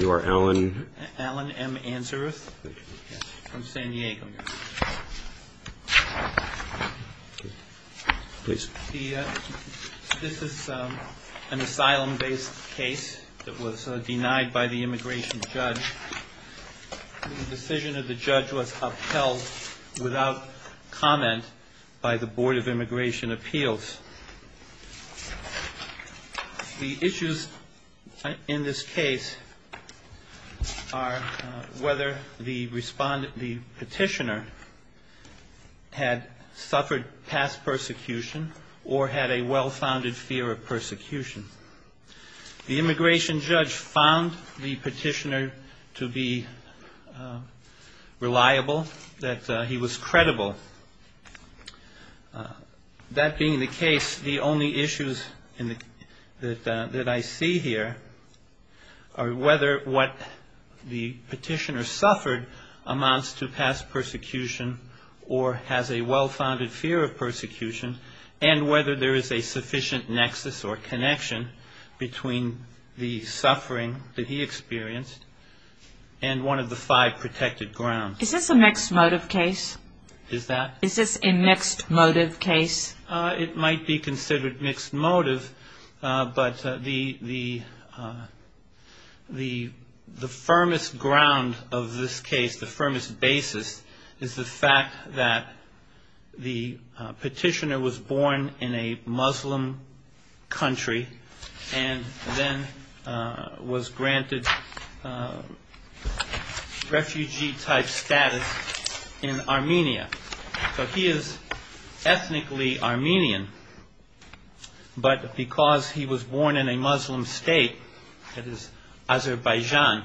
You are Alan M. Anseris from San Diego, New York. This is an asylum-based case that was denied by the immigration judge. The decision of the judge was upheld without comment by the Board of Immigration Appeals. The issues in this case are whether the respondent, the petitioner, had suffered past persecution or had a well-founded fear of persecution. The immigration judge found the petitioner to be reliable, that he was credible. That being the case, the only issues that I see here are whether what the petitioner suffered amounts to past persecution or has a well-founded fear of persecution, and whether there is a sufficient nexus or connection between the suffering that he experienced and one of the five protected grounds. Is this a mixed motive case? It might be considered mixed motive, but the firmest ground of this case, the firmest basis, is the fact that the petitioner was born in a Muslim country and then was granted refugee-type status, in Armenia. So he is ethnically Armenian, but because he was born in a Muslim state, that is, Azerbaijan,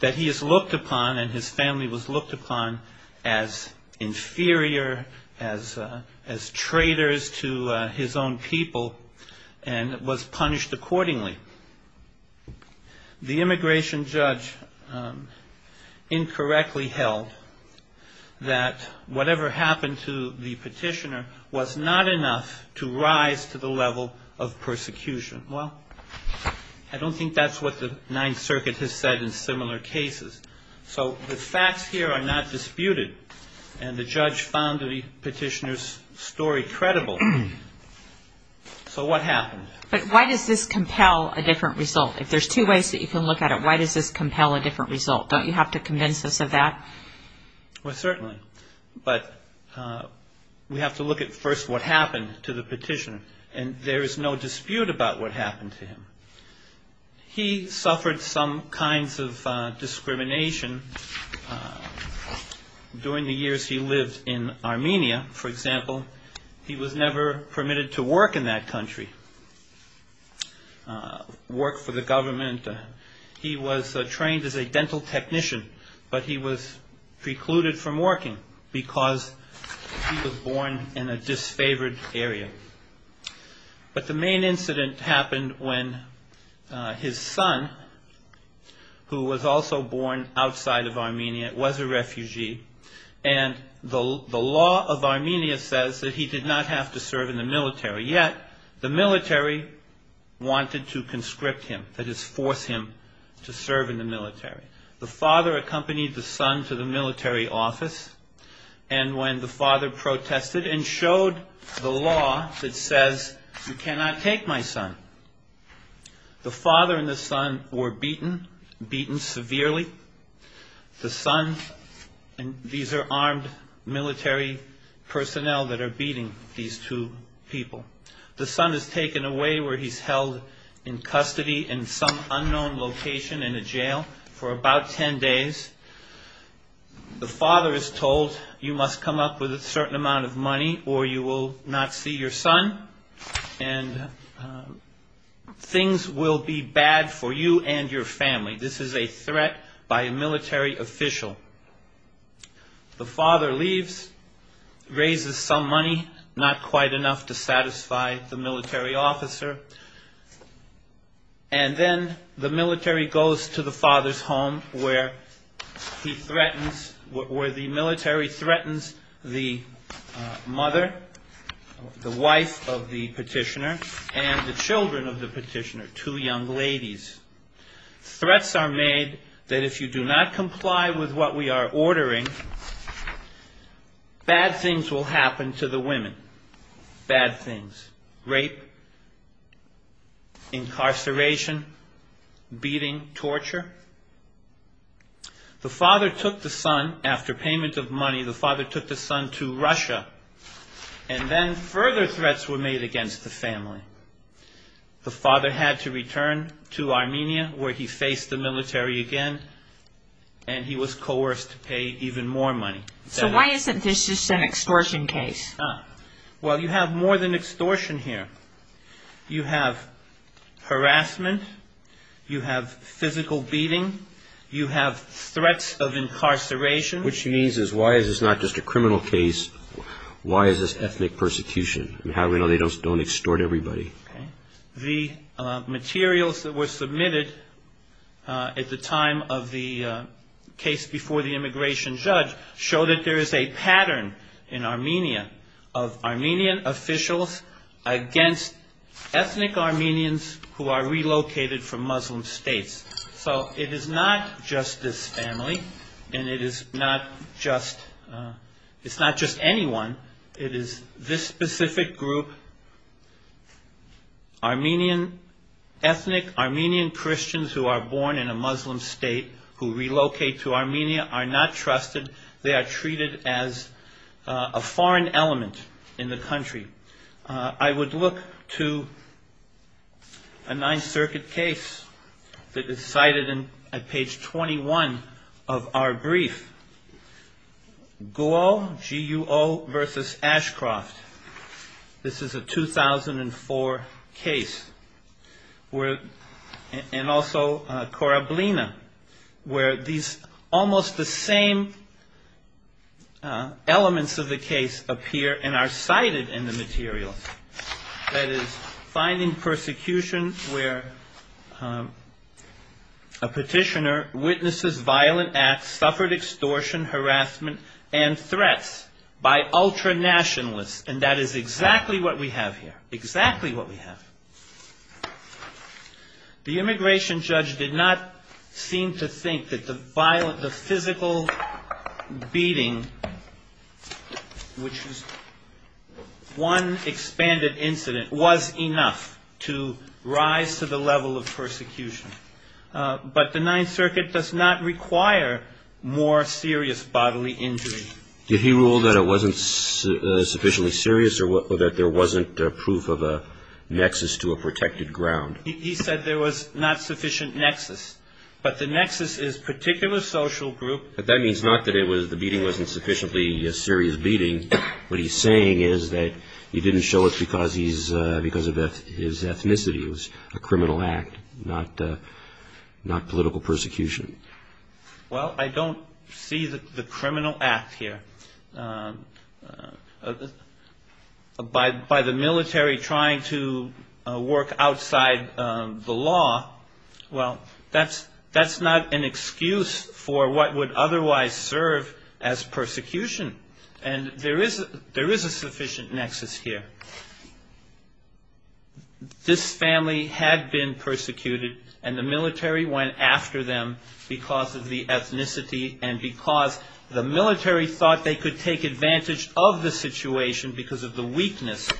that he is looked upon and his family was looked upon as inferior, as traitors to his own people and was punished accordingly. The immigration judge incorrectly held that whatever happened to the petitioner was not enough to rise to the level of persecution. Well, I don't think that's what the Ninth Circuit has said in similar cases. So the facts here are not disputed, and the judge found the petitioner's story credible. So what happened? But why does this compel a different result? If there's two ways that you can look at it, why does this compel a different result? Don't you have to convince us of that? Well, certainly. But we have to look at first what happened to the petitioner, and there is no dispute about what happened to him. He suffered some kinds of discrimination during the years he lived in Armenia, for example. He was never permitted to work in that country, work for the government. He was trained as a dental technician, but he was precluded from working because he was born in a disfavored area. But the main incident happened when his son, who was also born outside of Armenia, was a refugee. And the law of Armenia says that he did not have to serve in the military, yet the military wanted to conscript him, that is, force him to serve in the military. The father accompanied the son to the military office, and when the father protested and showed the law that says, you cannot take my son, the father and the son were beaten, beaten severely. The son, and these are armed military personnel that are beating these two people. The son is taken away where he's held in custody in some unknown location in a jail for about ten days. The father is told, you must come up with a certain amount of money or you will not see your son, and things will be bad for you and your family. This is a threat by a military official. The father leaves, raises some money, not quite enough to satisfy the military officer, and then the military goes to the father's home where he threatens, where the military threatens the mother, the wife of the petitioner, and the children of the petitioner, two young ladies. Threats are made that if you do not comply with what we are ordering, bad things will happen to the women, bad things, rape, incarceration, beating, torture. The father took the son, after payment of money, the father took the son to Russia, and then further threats were made against the family. The father had to return to Armenia, where he faced the military again, and he was coerced to pay even more money. So why isn't this just an extortion case? Well, you have more than extortion here. You have harassment, you have physical beating, you have threats of incarceration. Which means, why is this not just a criminal case, why is this ethnic persecution, and how do we know they don't extort everybody? The materials that were submitted at the time of the case before the immigration judge showed that there is a pattern in Armenia, of Armenian officials against ethnic Armenians who are relocated from Muslim states. So it is not just this family, and it is not just, it's not just anyone, it is this specific group, and it is not just this family. Armenian ethnic, Armenian Christians who are born in a Muslim state, who relocate to Armenia, are not trusted, they are treated as a foreign element in the country. I would look to a Ninth Circuit case that is cited at page 21 of our brief, Guo versus Ashcroft. This is a 2004 case, and also Korablina, where these almost the same elements of the case appear and are cited in the materials. That is, finding persecution where a petitioner witnesses violent acts, suffered extortion, harassment, and threats by ultra-nationalists, and this is a 2004 case. And that is exactly what we have here, exactly what we have. The immigration judge did not seem to think that the physical beating, which was one expanded incident, was enough to rise to the level of persecution. But the Ninth Circuit does not require more serious bodily injury. Did he rule that it wasn't sufficiently serious, or that there wasn't proof of a nexus to a protected ground? He said there was not sufficient nexus, but the nexus is particular social group. But that means not that the beating wasn't sufficiently a serious beating, what he's saying is that he didn't show it because of his ethnicity, it was a criminal act, not political persecution. Well, I don't see the criminal act here. By the military trying to work outside the law, well, that's not an excuse for what would otherwise serve as persecution. And there is a sufficient nexus here. This family had been persecuted, and the military went after them because of the ethnicity, and because the military thought they could take advantage of the situation because of the weakness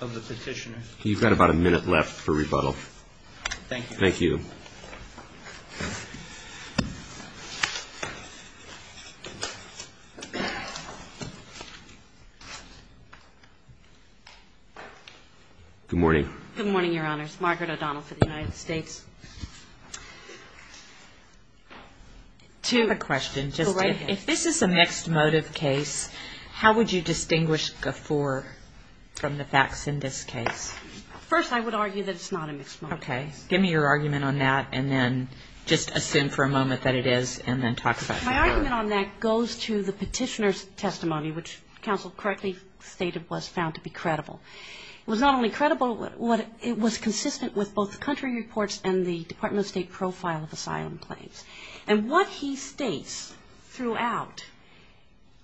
of the petitioners. You've got about a minute left for rebuttal. Good morning. Good morning, Your Honors. Margaret O'Donnell for the United States. I have a question. If this is a mixed motive case, how would you distinguish the four from the facts in this case? First, I would argue that it's not a mixed motive case. Give me your argument on that, and then just assume for a moment that it is, and then talk about it. My argument on that goes to the petitioner's testimony, which counsel correctly stated was found to be credible. It was not only credible, it was consistent with both the country reports and the Department of State profile of asylum claims. And what he states throughout,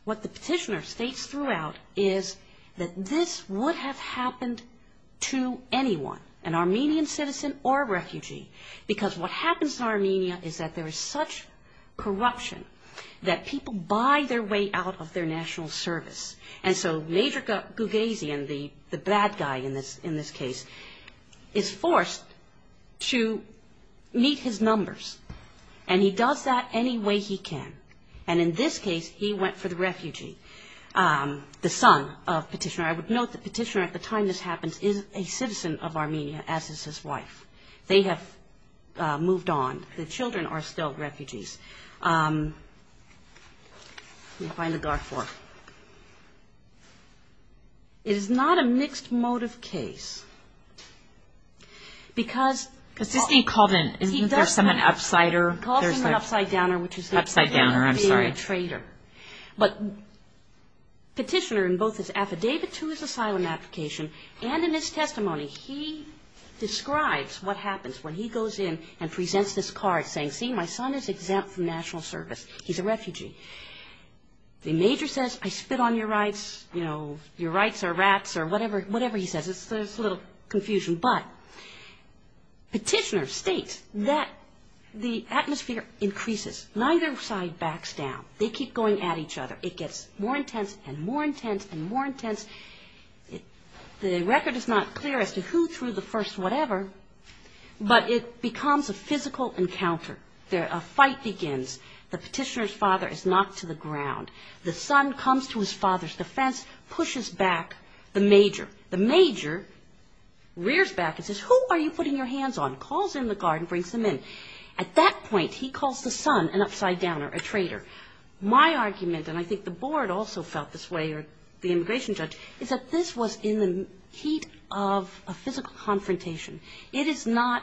what the petitioner states throughout, is that this would have happened to anyone, an Armenian citizen, an American citizen, an American citizen. It would have happened to a citizen or a refugee, because what happens in Armenia is that there is such corruption that people buy their way out of their national service. And so Major Gougezian, the bad guy in this case, is forced to meet his numbers, and he does that any way he can. And in this case, he went for the refugee, the son of the petitioner. I would note the petitioner, at the time this happens, is a citizen of Armenia, as is his wife. They have moved on. The children are still refugees. It is not a mixed motive case, because he calls him an upside downer, which is the opposite of being a traitor. But petitioner, in both his affidavit to his asylum application and in his testimony, he describes what happens when he goes in and presents this card, saying, see, my son is exempt from national service. He's a refugee. The major says, I spit on your rights, you know, your rights are rats or whatever he says. It's a little confusion, but petitioner states that the atmosphere increases. Neither side backs down. They keep going at each other. It gets more intense and more intense and more intense. The record is not clear as to who threw the first whatever, but it becomes a physical encounter. A fight begins. The petitioner's father is knocked to the ground. The son comes to his father's defense, pushes back the major. The major rears back and says, who are you putting your hands on, calls in the guard and brings them in. At that point, he calls the son an upside downer, a traitor. My argument, and I think the board also felt this way, or the immigration judge, is that this was in the heat of a physical confrontation. It is not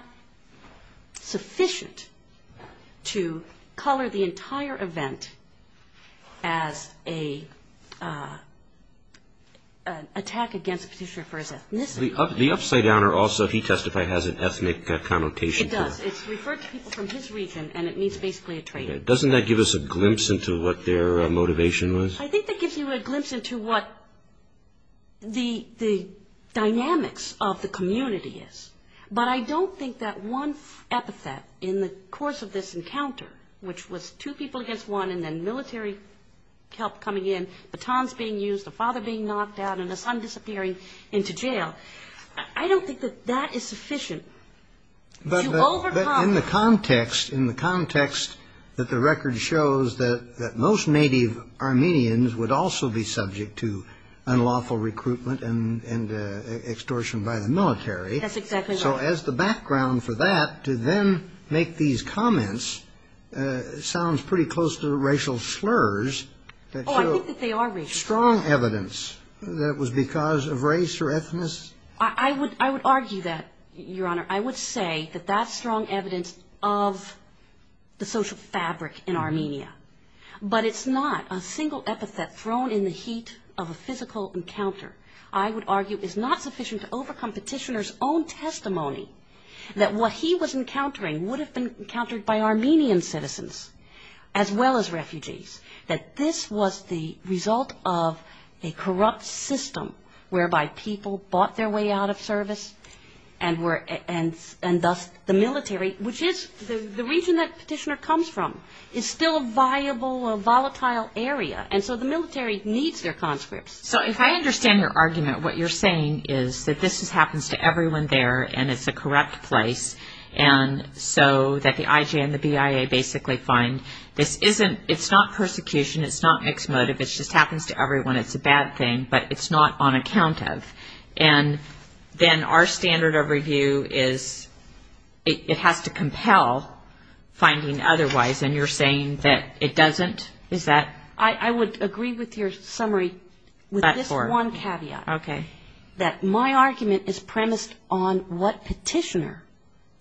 sufficient to color the entire event as an attack against a petitioner. The upside downer also, he testified, has an ethnic connotation to it. Doesn't that give us a glimpse into what their motivation was? I think that gives you a glimpse into what the dynamics of the community is. But I don't think that one epithet in the course of this encounter, which was two people against one, and then military help coming in, batons being used, a father being knocked out, and a son disappearing. I don't think that that is sufficient. In the context that the record shows that most native Armenians would also be subject to unlawful recruitment and extortion by the military. So as the background for that, to then make these comments sounds pretty close to racial slurs. Strong evidence that it was because of race or ethnicity. I would argue that, Your Honor, I would say that that's strong evidence of the social fabric in Armenia. But it's not a single epithet thrown in the heat of a physical encounter. I would argue it's not sufficient to overcome petitioner's own testimony that what he was encountering would have been encountered by Armenian citizens, as well as refugees. And that this was the result of a corrupt system whereby people bought their way out of service, and thus the military, which is the region that petitioner comes from, is still a viable, a volatile area. And so the military needs their conscripts. So if I understand your argument, what you're saying is that this happens to everyone there, and it's a corrupt place, and so that the IJ and the BIA basically find this isn't, it's not persecution, it's persecution. It's not mixed motive, it just happens to everyone, it's a bad thing, but it's not on account of. And then our standard of review is it has to compel finding otherwise, and you're saying that it doesn't? Is that? I would agree with your summary with this one caveat. Okay. My argument is premised on what petitioner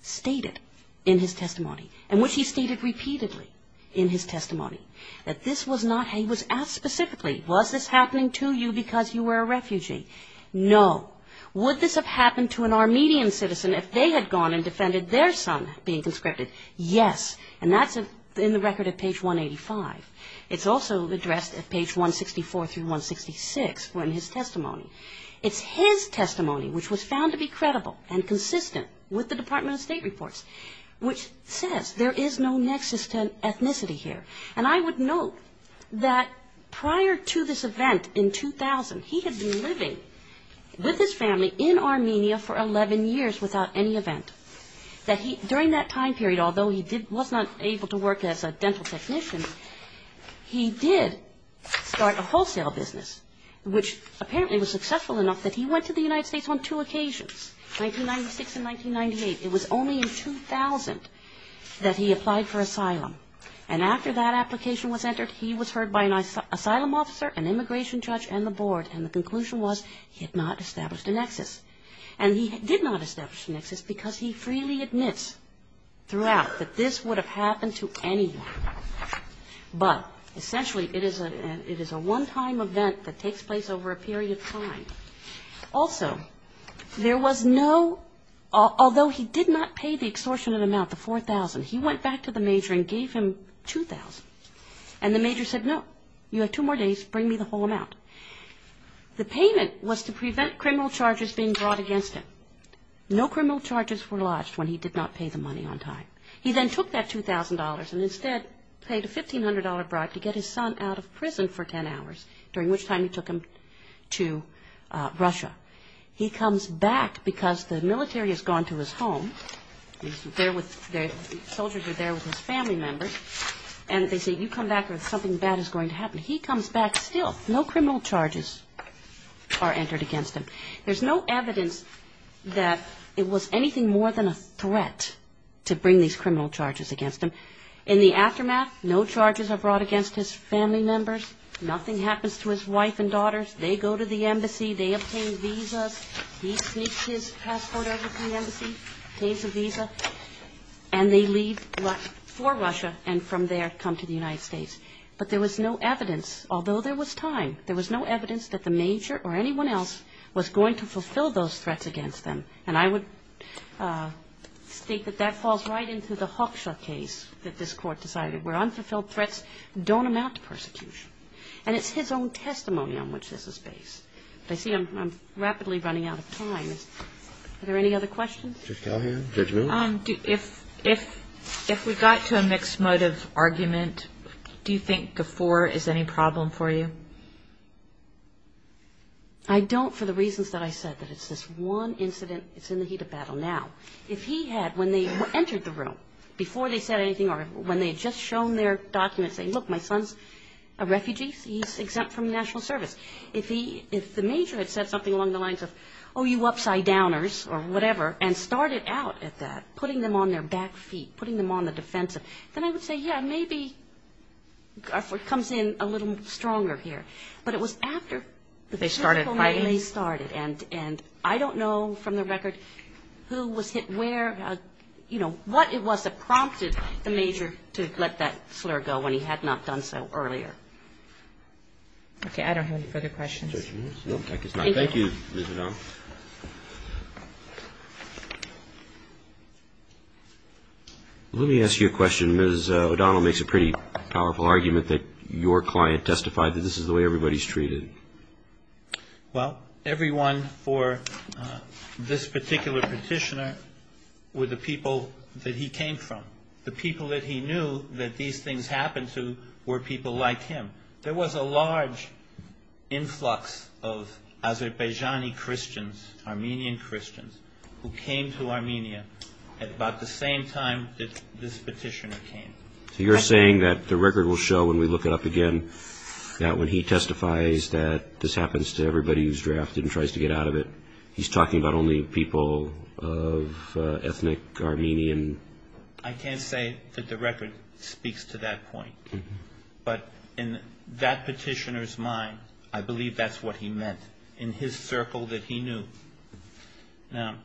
stated in his testimony, and which he stated repeatedly in his testimony, that this was not how he was asked specifically. Was this happening to you because you were a refugee? No. Would this have happened to an Armenian citizen if they had gone and defended their son being conscripted? Yes. And that's in the record at page 185. It's also addressed at page 164 through 166 in his testimony. It's his testimony which was found to be credible and consistent with the Department of State reports, which says there is no nexus to ethnicity here. And I would note that prior to this event in 2000, he had been living with his family in Armenia for 11 years without any event. During that time period, although he was not able to work as a dental technician, he did start a wholesale business, which apparently was successful enough that he went to the United States on two occasions, 1996 and 1998. It was only in 2000 that he applied for asylum, and after that application was entered, he was heard by an asylum officer, an immigration judge and the board, and the conclusion was he had not established a nexus. And he did not establish a nexus because he freely admits throughout that this would have happened to anyone. But essentially it is a one-time event that takes place over a period of time. Also, there was no, although he did not pay the extortionate amount, the 4,000, he went back to the major and gave him 2,000. And the major said, no, you have two more days, bring me the whole amount. The payment was to prevent criminal charges being brought against him. No criminal charges were lodged when he did not pay the money on time. He then took that $2,000 and instead paid a $1,500 bribe to get his son out of prison for 10 hours, during which time he took him to Russia. He comes back because the military has gone to his home, the soldiers are there with his family members, and they say, you come back or something bad is going to happen. He comes back still, no criminal charges are entered against him. There's no evidence that it was anything more than a threat to bring these criminal charges against him. In the aftermath, no charges are brought against his family members, nothing happens to his wife and daughters. They go to the embassy, they obtain visas, he sneaks his passport out of the embassy, obtains a visa, and they leave for Russia and from there come to the United States. But there was no evidence, although there was time, there was no evidence that the major or anyone else was going to fulfill those threats against them. And I would state that that falls right into the Hawkshaw case that this Court decided, where unfulfilled threats don't amount to persecution. And it's his own testimony on which this is based. But I see I'm rapidly running out of time. Are there any other questions? Judge Callahan, judgment? If we got to a mixed motive argument, do you think Gafoor is any problem for you? I don't for the reasons that I said, that it's this one incident, it's in the heat of battle now. If he had, when they entered the room, before they said anything or when they had just shown their documents, saying, look, my son's a refugee, he's exempt from national service. If the major had said something along the lines of, oh, you upside-downers or whatever, and started out at that, putting them on their back feet, putting them on the defensive, then I would say, yeah, maybe Gafoor comes in a little stronger here. But it was after they started, and I don't know from the record who was hit where, you know, what it was that prompted the major to let that slur go when he had not done so earlier. Okay, I don't have any further questions. Thank you, Ms. O'Donnell. Let me ask you a question. Ms. O'Donnell makes a pretty powerful argument that your client testified that this is the way everybody's treated. Well, everyone for this particular petitioner were the people that he came from. The people that he knew that these things happened to were people like him. There was a large influx of Azerbaijani Christians, Armenian Christians, who came to Armenia at about the same time that this petitioner came. So you're saying that the record will show, when we look it up again, that when he testifies that this happens to everybody who's drafted and tries to get out of it, he's talking about only people of ethnic Armenian? I can't say that the record speaks to that point. But in that petitioner's mind, I believe that's what he meant in his circle that he knew. Now,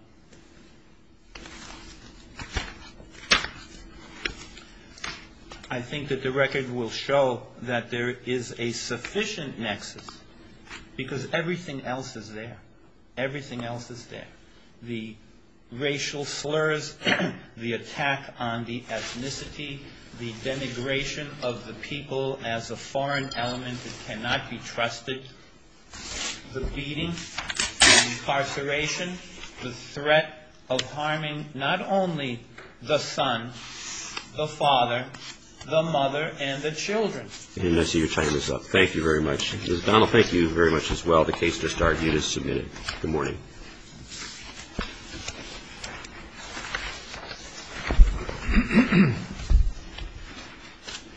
I think that the record will show that there is a sufficient nexus, because everything else is there, everything else is there. The racial slurs, the attack on the ethnicity, the denigration of the people as a foreign element that cannot be trusted, the beating, the incarceration, the threat of harming not only the son, the father, the mother, and the children. And I see you're tying this up. Thank you very much.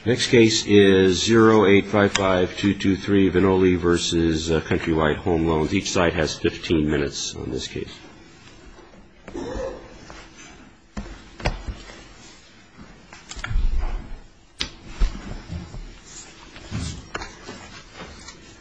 The next case is 0855223, Vinole v. Country Light Home Loans. Each side has 15 minutes on this case. Thank you.